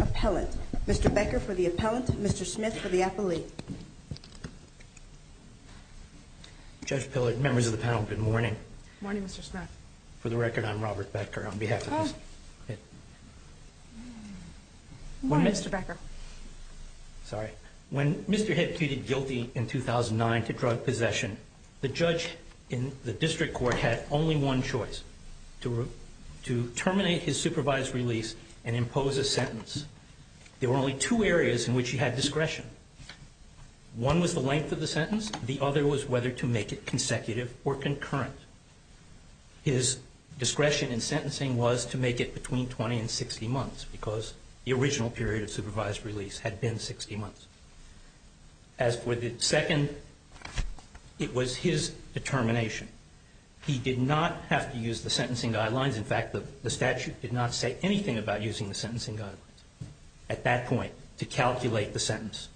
Appellant. Mr. Becker for the appellant. Mr. Smith for the appellate. Judge Pillard, members of the panel, good morning. Good morning, Mr. Smith. For the record, I'm Robert Becker. On behalf of the... Good morning, Mr. Becker. Sorry. When Mr. Head pleaded guilty in 2009 to drug possession, the judge had the right to appeal. The district court had only one choice, to terminate his supervised release and impose a sentence. There were only two areas in which he had discretion. One was the length of the sentence. The other was whether to make it consecutive or concurrent. His discretion in sentencing was to make it between 20 and 60 months, because the original period of supervised release had been 60 months. As for the second, it was his determination. He did not have to use the sentencing guidelines. In fact, the statute did not say anything about using the sentencing guidelines at that point to calculate the sentence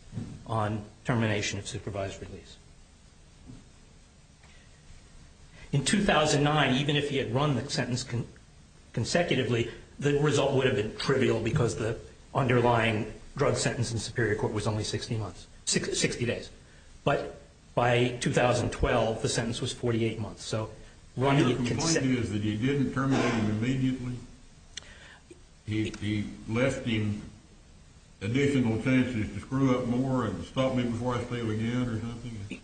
on termination of supervised release. In 2009, even if he had run the sentence consecutively, the result would have been trivial because the underlying drug sentence in Superior Court was only 60 days. But by 2012, the sentence was 48 months. Your complaint is that he didn't terminate him immediately? He left him additional chances to screw up more and stop me before I failed again or something?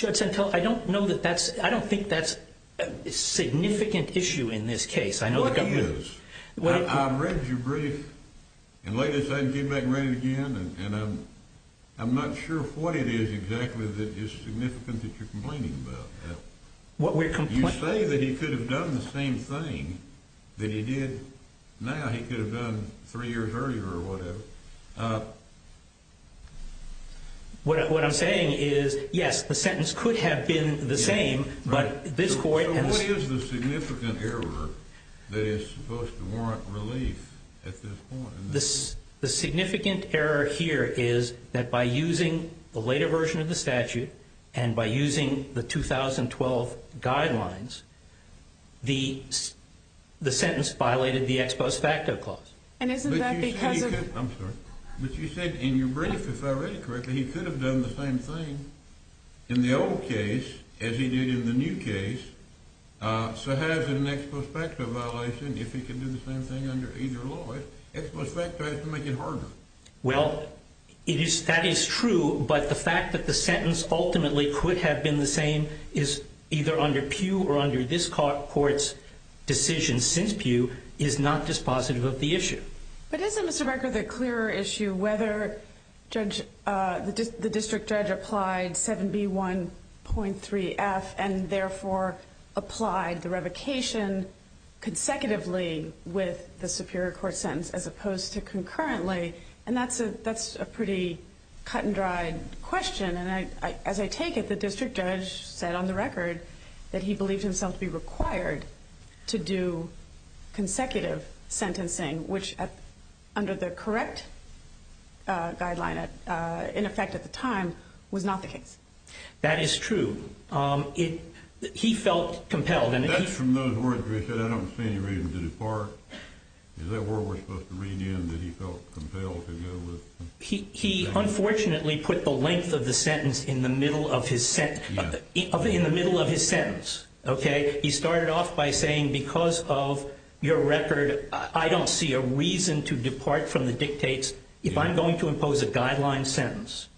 I don't think that's a significant issue in this case. I read your brief and later said I'm not sure what it is exactly that is significant that you're complaining about. You say that he could have done the same thing that he did now. He could have done three years earlier or whatever. What I'm saying is, yes, the sentence could have been the same, but at this point... So what is the significant error that is supposed to warrant relief at this point? The significant error here is that by using the later version of the statute and by using the 2012 guidelines, the sentence violated the ex post facto clause. And isn't that because of... I'm sorry. But you said in your brief, if I read it correctly, he could have done the same thing in the old case as he did in the new case. So how is it an ex post facto violation if he could do the same thing under either law? Ex post facto has to make it harder. Well, that is true, but the fact that the sentence ultimately could have been the same is either under Pew or under this court's decision since Pew is not dispositive of the issue. But isn't, Mr. Becker, the clearer issue whether the district judge applied 7B1.3F and therefore applied the case consecutively with the superior court sentence as opposed to concurrently? And that's a pretty cut and dried question. And as I take it, the district judge said on the record that he believed himself to be required to do consecutive sentencing, which under the correct guideline in effect at the time was not the case. That is true. He felt compelled. That's from those words where he said, I don't see any reason to depart. Is that where we're supposed to read in that he felt compelled to go with? He unfortunately put the length of the sentence in the middle of his sentence. He started off by saying because of your record, I don't see a reason to depart from the dictates if I'm going to impose a guideline sentence.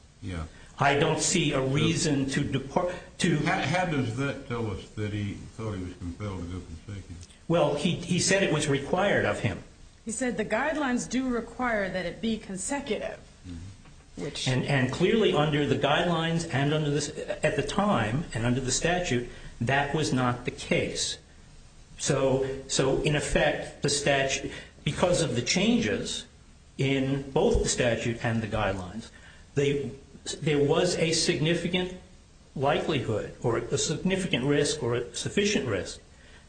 I don't see a reason to depart. How does that tell us that he thought he was compelled to go consecutively? Well, he said it was required of him. He said the guidelines do require that it be consecutive. And clearly under the guidelines at the time and under the statute that was not the case. So in effect, because of the changes in both the statute and the guidelines, there was a significant likelihood or a significant risk or a sufficient risk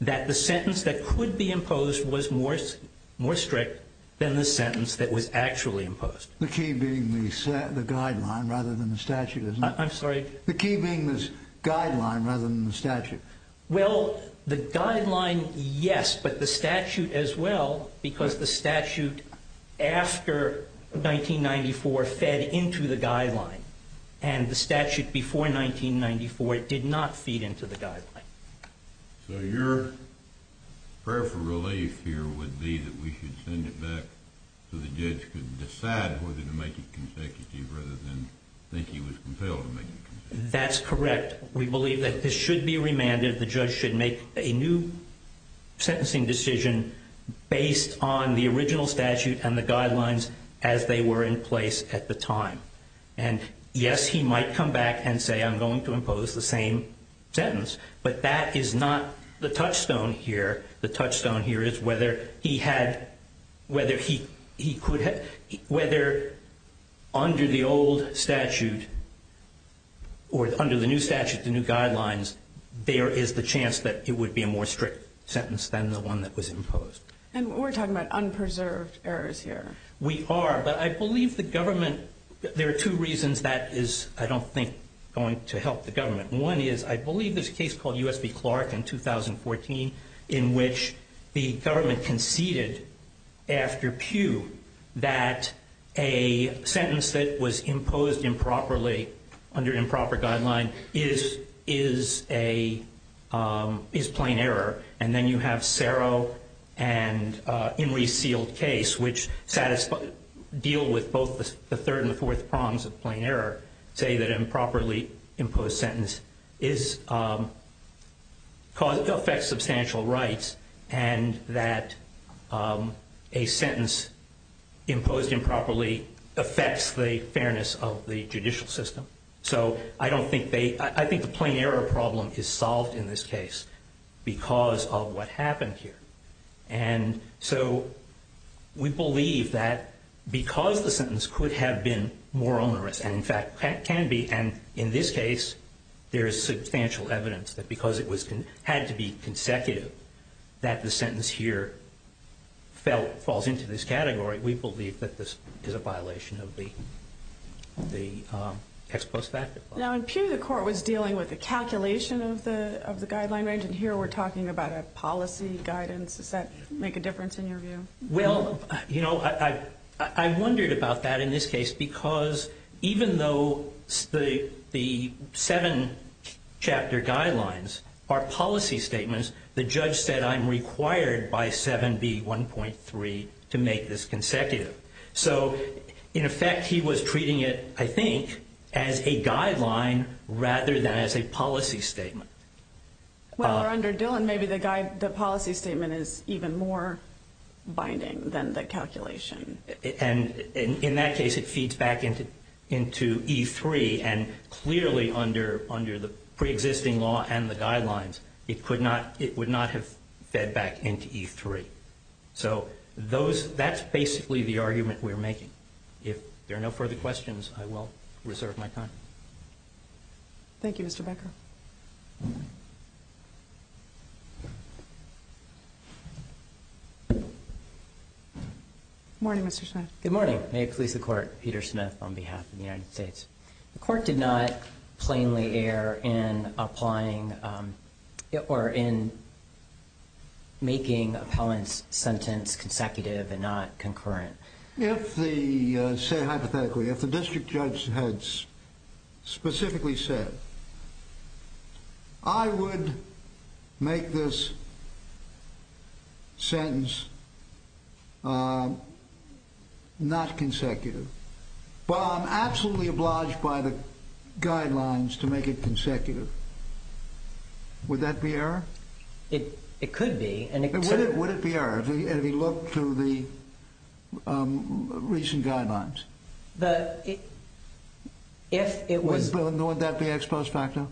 that the sentence that could be imposed was more strict than the sentence that was actually imposed. The key being the guideline rather than the statute, isn't it? I'm sorry? The key being this guideline rather than the statute. Well, the guideline, yes, but the statute as well because the statute after 1994 fed into the guideline and the statute before 1994 did not feed into the guideline. So your prayer for relief here would be that we should send it back so the judge could decide whether to make it consecutive rather than think he was compelled to make it consecutive. That's correct. We believe that this should be remanded. The judge should make a new sentencing decision based on the original statute and the guidelines as they were in place at the time. And yes, he might come back and say I'm going to impose the same sentence, but that is not the touchstone here. The touchstone here is whether he had, whether he could have, whether under the old statute or under the new statute, the new guidelines, there is the chance that it would be a more strict sentence than the one that was imposed. And we're talking about the old statute. We are, but I believe the government, there are two reasons that is, I don't think, going to help the government. One is I believe there's a case called U.S. v. Clark in 2014 in which the government conceded after Pew that a sentence that was imposed improperly under improper guideline is a, is plain error. And then you have Serro and Enri's sealed case, which deal with both the third and the fourth prongs of plain error, say that improperly imposed sentence is cause, affects substantial rights and that a sentence imposed improperly affects the fairness of the judicial system. So I don't think they, I think the plain error problem is solved in this case because of what happened here. And so we believe that because the sentence could have been more onerous and in fact can be, and in this case there is substantial evidence that because it was, had to be consecutive that the sentence here fell, falls into this category we believe that this is a violation of the ex post facto clause. Now in Pew the court was dealing with the calculation of the guideline range and here we're talking about a policy guidance. Does that make a difference in your view? Well, you know, I wondered about that in this case because even though the seven chapter guidelines are policy statements, the judge said I'm required by 7B 1.3 to make this consecutive. So in effect he was treating it, I think, as a guideline rather than as a policy statement. Well, under Dillon maybe the policy statement is even more binding than the calculation. And in that case it feeds back into E3 and clearly under the pre-existing law and the guidelines it would not have fed back into E3. So that's basically the argument we're making. If there are no further questions I will reserve my time. Thank you, Mr. Becker. Good morning, Mr. Smith. Good morning. May it please the court. Peter Smith on behalf of the United States. The court did not plainly err in applying or in making appellant's sentence consecutive and not concurrent. If the, say hypothetically, if the district judge had specifically said I would make this sentence not consecutive. Well, I'm absolutely obliged by the guidelines to make it consecutive. Would that be error? It could be. Would it be error if he looked through the recent guidelines? Would that be ex post facto?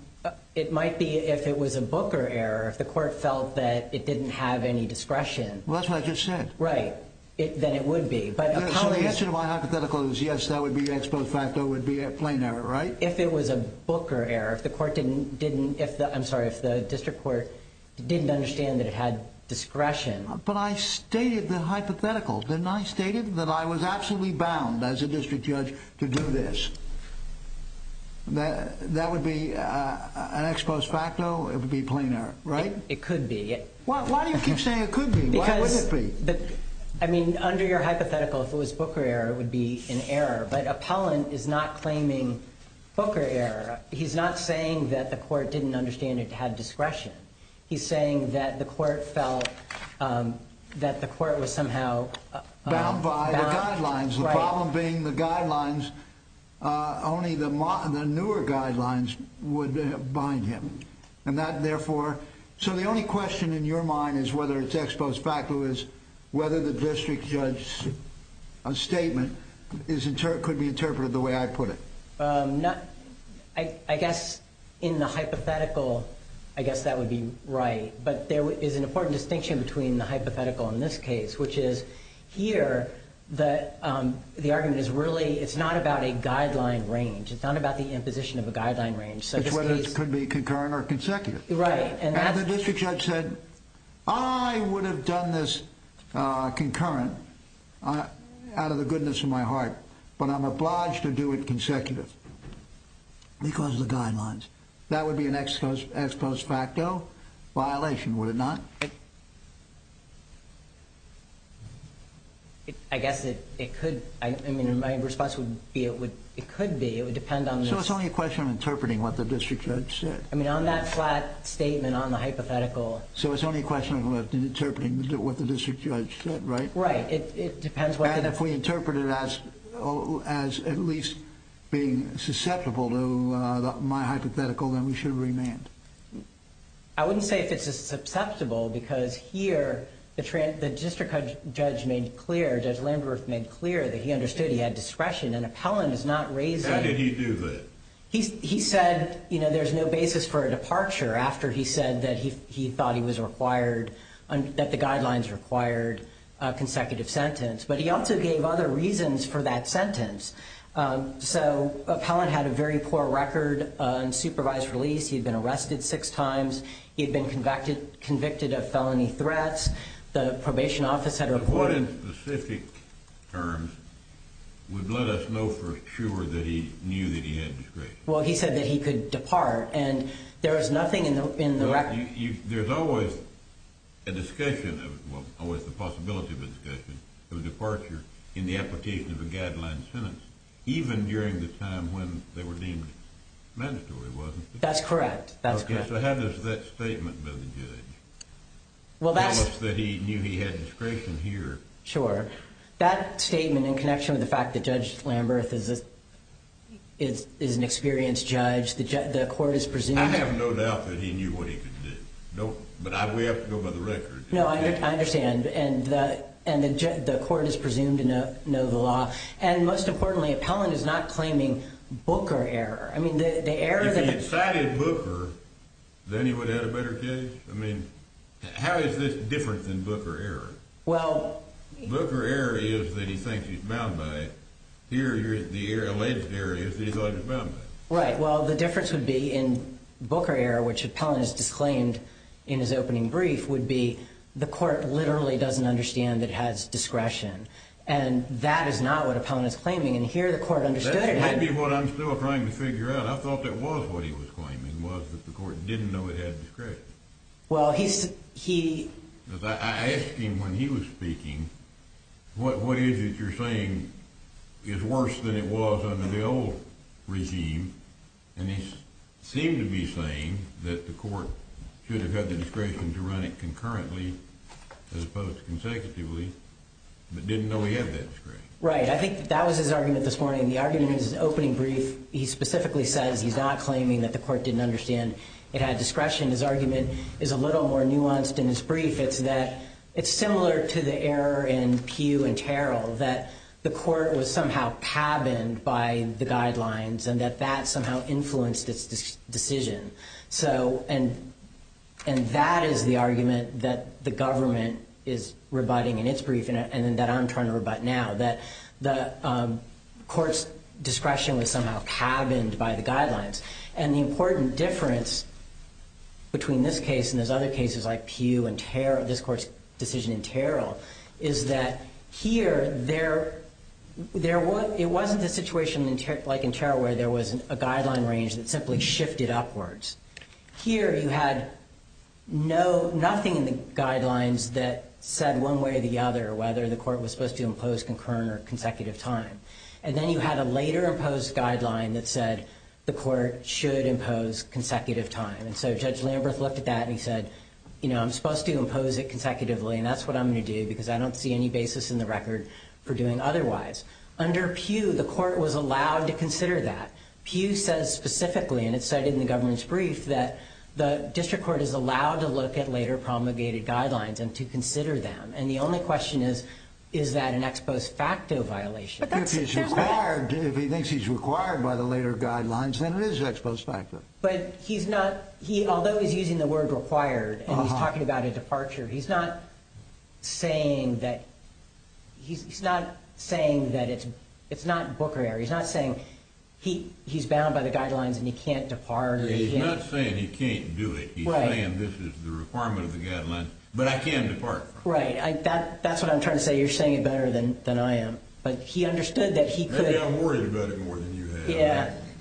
It might be if it was a booker error. If the court felt that it didn't have any discretion. Well, that's what I just said. Right. Then it would be. So the answer to my hypothetical is yes, that would be ex post facto. It would be a plain error, right? If it was a booker error. If the court didn't, I'm sorry, if the district court didn't understand that it had discretion. But I stated the I was absolutely bound as a district judge to do this. That would be an ex post facto. It would be plain error, right? It could be. Why do you keep saying it could be? Why wouldn't it be? I mean, under your hypothetical, if it was booker error, it would be an error. But appellant is not claiming booker error. He's not saying that the court didn't understand it had discretion. He's saying that the court felt that the court was somehow bound by the guidelines. The problem being the guidelines only the newer guidelines would bind him. And that, therefore, so the only question in your mind is whether it's ex post facto is whether the district judge statement could be interpreted the way I put it. I guess in the hypothetical I guess that would be right. But there is an important distinction between the hypothetical in this case, which is here the argument is really, it's not about a guideline range. It's not about the imposition of a guideline range. Which could be concurrent or consecutive. And the district judge said, I would have done this concurrent out of the goodness of my heart. But I'm obliged to do it consecutive. Because of the guidelines. That would be an ex post facto violation, would it not? I guess it could. My response would be it could be. It would depend on this. So it's only a question of interpreting what the district judge said. So it's only a question of interpreting what the district judge said, right? And if we interpret it as at least being susceptible to my hypothetical, then we should remand. I wouldn't say if it's susceptible because here the district judge made clear that he understood he had discretion. How did he do that? He said there's no basis for a departure after he said that he thought he was required that the guidelines required a consecutive sentence. But he also gave other reasons for that sentence. So an appellant had a very poor record on supervised release. He had been arrested six times. He had been convicted of felony threats. The probation office had reported In specific terms would let us know for sure that he knew that he had discretion. Well he said that he could depart and there was nothing in the record. There's always a possibility of a discussion of a departure in the application of a guideline sentence, even during the time when they were deemed mandatory, wasn't there? So how does that statement by the judge tell us that he knew he had discretion here? That statement in connection with the fact that Judge Lamberth is an experienced judge, the court is presuming... I have no doubt that he knew what he could do. But we have to go by the record. No, I understand. And the court is presumed to know the law. And most importantly, appellant is not claiming Booker error. If he had cited Booker, then he would have had a better case? How is this different than Booker error? Booker error is that he thinks he's bound by it. Here, the alleged error is that he thinks he's bound by it. Right, well the difference would be in Booker error, which appellant has disclaimed in his opening brief, would be the court literally doesn't understand that it has discretion. And that is not what appellant is claiming. And here the court understood it. That might be what I'm still trying to figure out. I thought that was what he was claiming, was that the court didn't know it had discretion. I asked him when he was speaking, what is it you're saying is worse than it was under the old regime? And he seemed to be saying that the court should have had the discretion to run it concurrently as opposed to consecutively, but didn't know he had that discretion. Right, I think that was his argument this morning. The argument in his opening brief he specifically says he's not claiming that the court didn't understand it had discretion. His argument is a little more nuanced in his brief. It's that it's similar to the error in Pugh and Terrell, that the court was somehow cabined by the guidelines, and that that somehow influenced its decision. And that is the argument that the government is rebutting in its brief, and that I'm trying to rebut now, that the court's discretion was somehow cabined by the guidelines. And the important difference between this case and other cases like Pugh and Terrell, this court's decision in Terrell, is that here it wasn't a situation like in Terrell where there was a guideline range that simply shifted upwards. Here you had nothing in the guidelines that said one way or the other whether the court was supposed to impose concurrent or consecutive time. And then you had a later imposed guideline that said the court should impose consecutive time. And so Judge Lamberth looked at that and he said, you know, I'm supposed to impose it consecutively and that's what I'm going to do because I don't see any basis in the record for doing otherwise. Under Pugh, the court was allowed to consider that. Pugh says specifically, and it's cited in the government's brief, that the district court is allowed to look at later promulgated guidelines and to consider them. And the only question is, is that an ex post facto violation? If he thinks he's required by the later guidelines, then it is ex post facto. But he's not, although he's using the word required, and he's talking about a departure, he's not saying that it's not Booker error. He's not saying he's bound by the guidelines and he can't depart. He's not saying he can't do it. He's saying this is the requirement of the guidelines, but I can't depart. That's what I'm trying to say. You're saying it better than I am. Maybe I'm worried about it more than you have.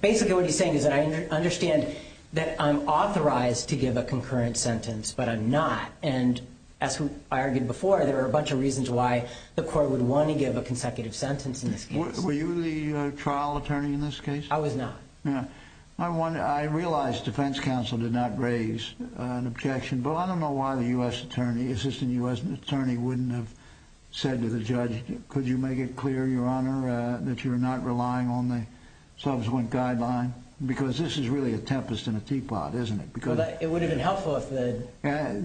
Basically what he's saying is that I understand that I'm authorized to give a concurrent sentence, but I'm not. And as I argued before, there are a bunch of reasons why the court would want to give a consecutive sentence in this case. Were you the trial attorney in this case? I was not. I realize defense counsel did not raise an objection, but I don't know why the assistant U.S. attorney wouldn't have said to the judge, could you make it clear, your honor, that you're not relying on the subsequent guideline? Because this is really a tempest in a teapot, isn't it? It would have been helpful if the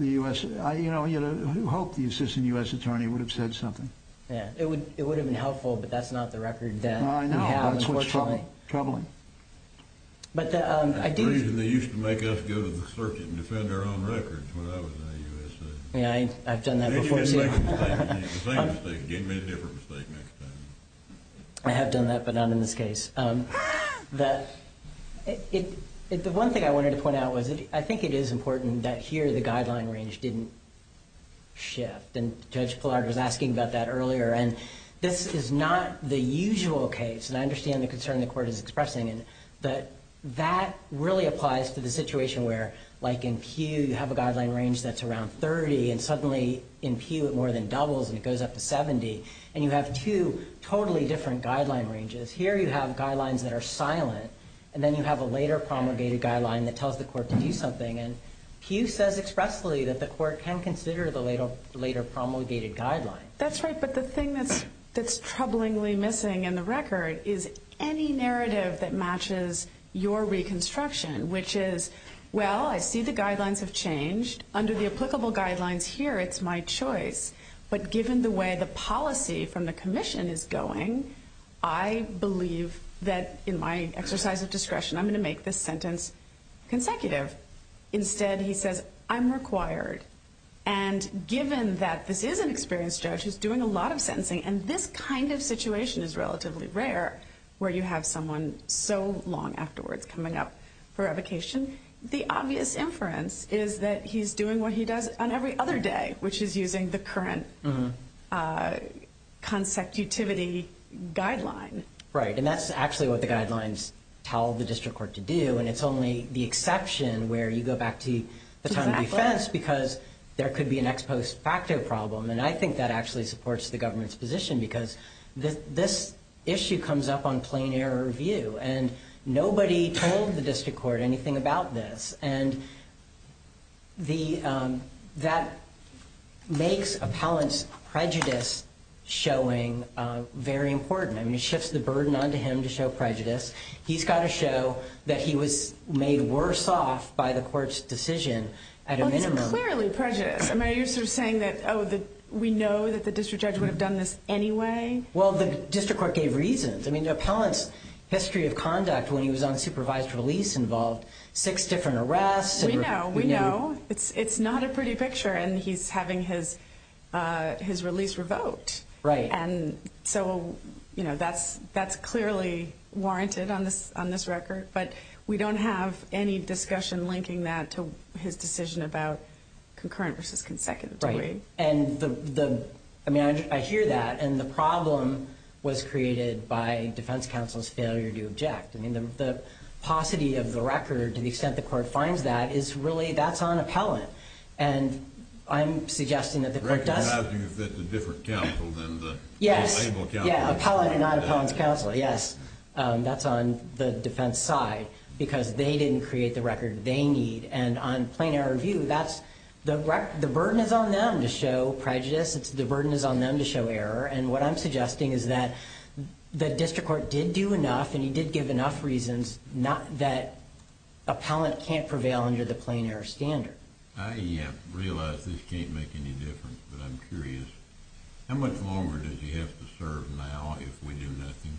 U.S. Who hoped the assistant U.S. attorney would have said something? It would have been helpful, but that's not the record that we have. That's troubling. They used to make us go to the circuit and defend our own records when I was in the U.S.A. I've done that before, too. I have done that, but not in this case. I understand the concern the court is expressing. That really applies to the situation where, like in Pew, you have a guideline range that's around 30, and suddenly in Pew, it more than doubles, and it goes up to 70. And you have two totally different guideline ranges. Here you have guidelines that are silent, and then you have a later promulgated guideline that tells the court to do something. Pew says expressly, that the court can consider the later promulgated guideline. That's right, but the thing that's troublingly missing in the record is any narrative that matches your reconstruction, which is, well, I see the guidelines have changed. Under the applicable guidelines here, it's my choice, but given the way the policy from the commission is going, I believe that in my exercise of discretion, I'm going to make this sentence consecutive. Instead, he says, I'm required. And given that this is an experienced judge who's doing a lot of sentencing, and this kind of situation is relatively rare, where you have someone so long afterwards coming up for revocation, the obvious inference is that he's doing what he does on every other day, which is using the current consecutivity guideline. Right, and that's actually what the guidelines tell the district court to do, and it's only the exception where you go back to the time of defense because there could be an ex post facto problem, and I think that actually supports the government's position because this issue comes up on plain error review, and nobody told the district court anything about this, and that makes appellant's prejudice showing very important. I mean, it shifts the burden onto him to show prejudice. He's got to show that he was made worse off by the court's decision at a minimum. Well, it's clearly prejudice. I mean, are you sort of saying that, oh, we know that the district judge would have done this anyway? Well, the district court gave reasons. I mean, the appellant's history of conduct when he was on supervised release involved six different arrests. We know. It's not a pretty picture, and he's having his release revoked, and so that's clearly warranted on this record, but we don't have any discussion linking that to his decision about concurrent versus consecutive. Right, and I mean, I hear that, and the problem was created by defense counsel's failure to object. I mean, the paucity of the record to the extent the court finds that is really, that's on appellant, and I'm suggesting that the court does... The record has to be with a different counsel than the... Yes, yeah, appellant and non-appellant's counsel, yes. That's on the defense side, because they didn't create the record they need, and on plain error view, that's... The burden is on them to show prejudice. The burden is on them to show error, and what I'm suggesting is that the district court did do enough, and he did give enough reasons, not that appellant can't prevail under the plain error standard. I realize this can't make any difference, but I'm curious. How much longer does he have to serve now if we do nothing?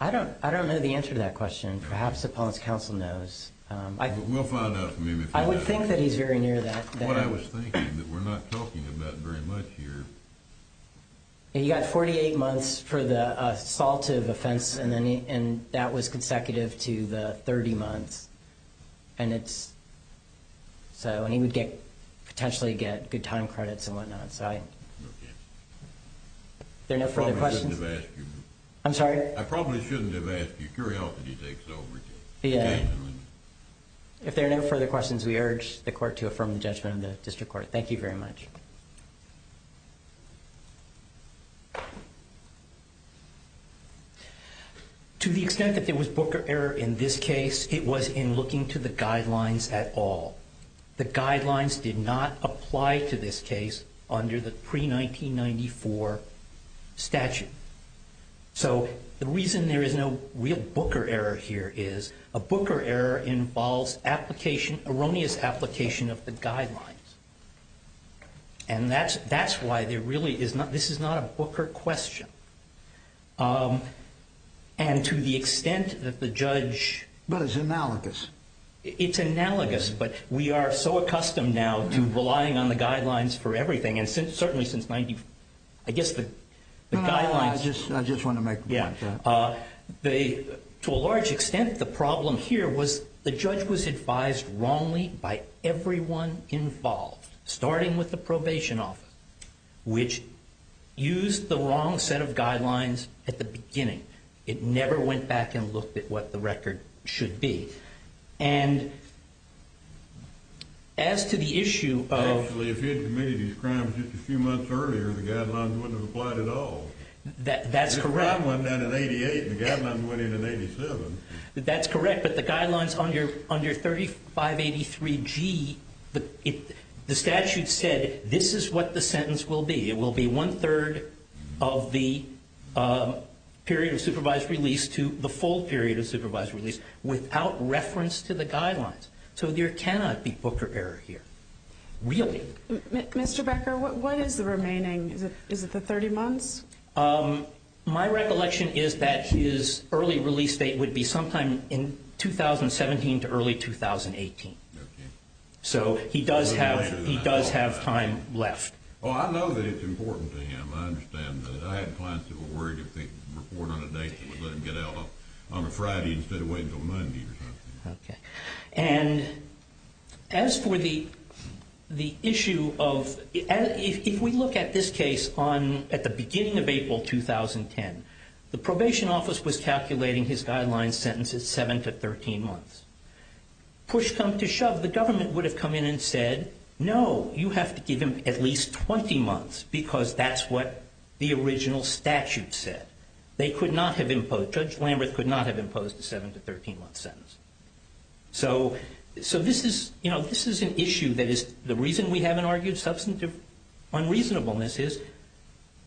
I don't know the answer to that question. Perhaps appellant's counsel knows. We'll find out maybe. I would think that he's very near that. What I was thinking, that we're not talking about very much here. He got 48 months for the assaultive offense, and that was consecutive to the 30 months, and it's... And he would potentially get good time credits and whatnot, so I... If there are no further questions... I'm sorry? I probably shouldn't have asked you. If there are no further questions, we urge the court to affirm the judgment of the district court. Thank you very much. To the extent that there was booker error in this case, it was in looking to the guidelines did not apply to this case under the pre-1994 statute. So the reason there is no real booker error here is a booker error involves erroneous application of the guidelines. And that's why there really is not... This is not a booker question. And to the extent that the judge... But it's analogous. It's analogous, but we are so accustomed now to relying on the guidelines for everything, and certainly since... I guess the guidelines... I just want to make a point. To a large extent, the problem here was the judge was advised wrongly by everyone involved, starting with the probation office, which used the wrong set of guidelines at the beginning. It never went back and looked at what the record should be. And as to the issue of... Actually, if he had committed these crimes just a few months earlier, the guidelines wouldn't have applied at all. That's correct. The guidelines went in in 88, and the guidelines went in in 87. That's correct. But the guidelines under 3583G, the statute said this is what the sentence will be. It will be one-third of the period of supervised release to the full period of supervised release without reference to the guidelines. So there cannot be booker error here. Really. Mr. Becker, what is the remaining... Is it the 30 months? My recollection is that his early release date would be sometime in 2017 to early 2018. So he does have time left. Oh, I know that it's important to him. I understand that. I had clients who were worried to report on a date that would let him get out on a Friday instead of waiting until Monday or something. As for the issue of... If we look at this case at the beginning of April 2010, the probation office was calculating his guideline sentence as 7 to 13 months. Push come to shove, the government would have come in and said no, you have to give him at least 20 months because that's what the original statute said. They could not have imposed... Judge Lamberth could not have imposed a 7 to 13 month sentence. So this is an issue that is... The reason we haven't argued substantive unreasonableness is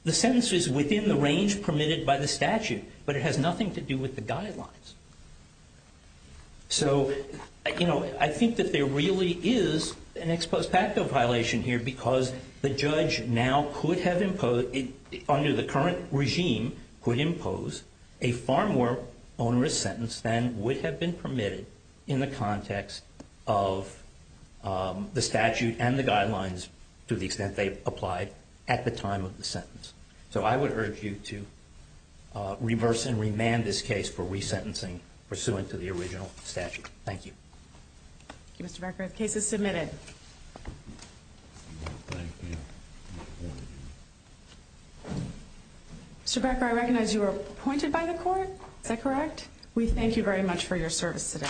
the sentence is within the range permitted by the statute, but it has nothing to do with the guidelines. So I think that there really is an ex post facto violation here because the judge now could have imposed... Under the current regime could impose a far more onerous sentence than would have been permitted in the context of the statute and the guidelines to the extent they applied at the time of the sentence. So I would urge you to reverse and remand this case for resentencing pursuant to the original statute. Thank you. Thank you, Mr. Becker. The case is submitted. Thank you. Mr. Becker, I recognize you were appointed by the court. Is that correct? We thank you very much for your service today.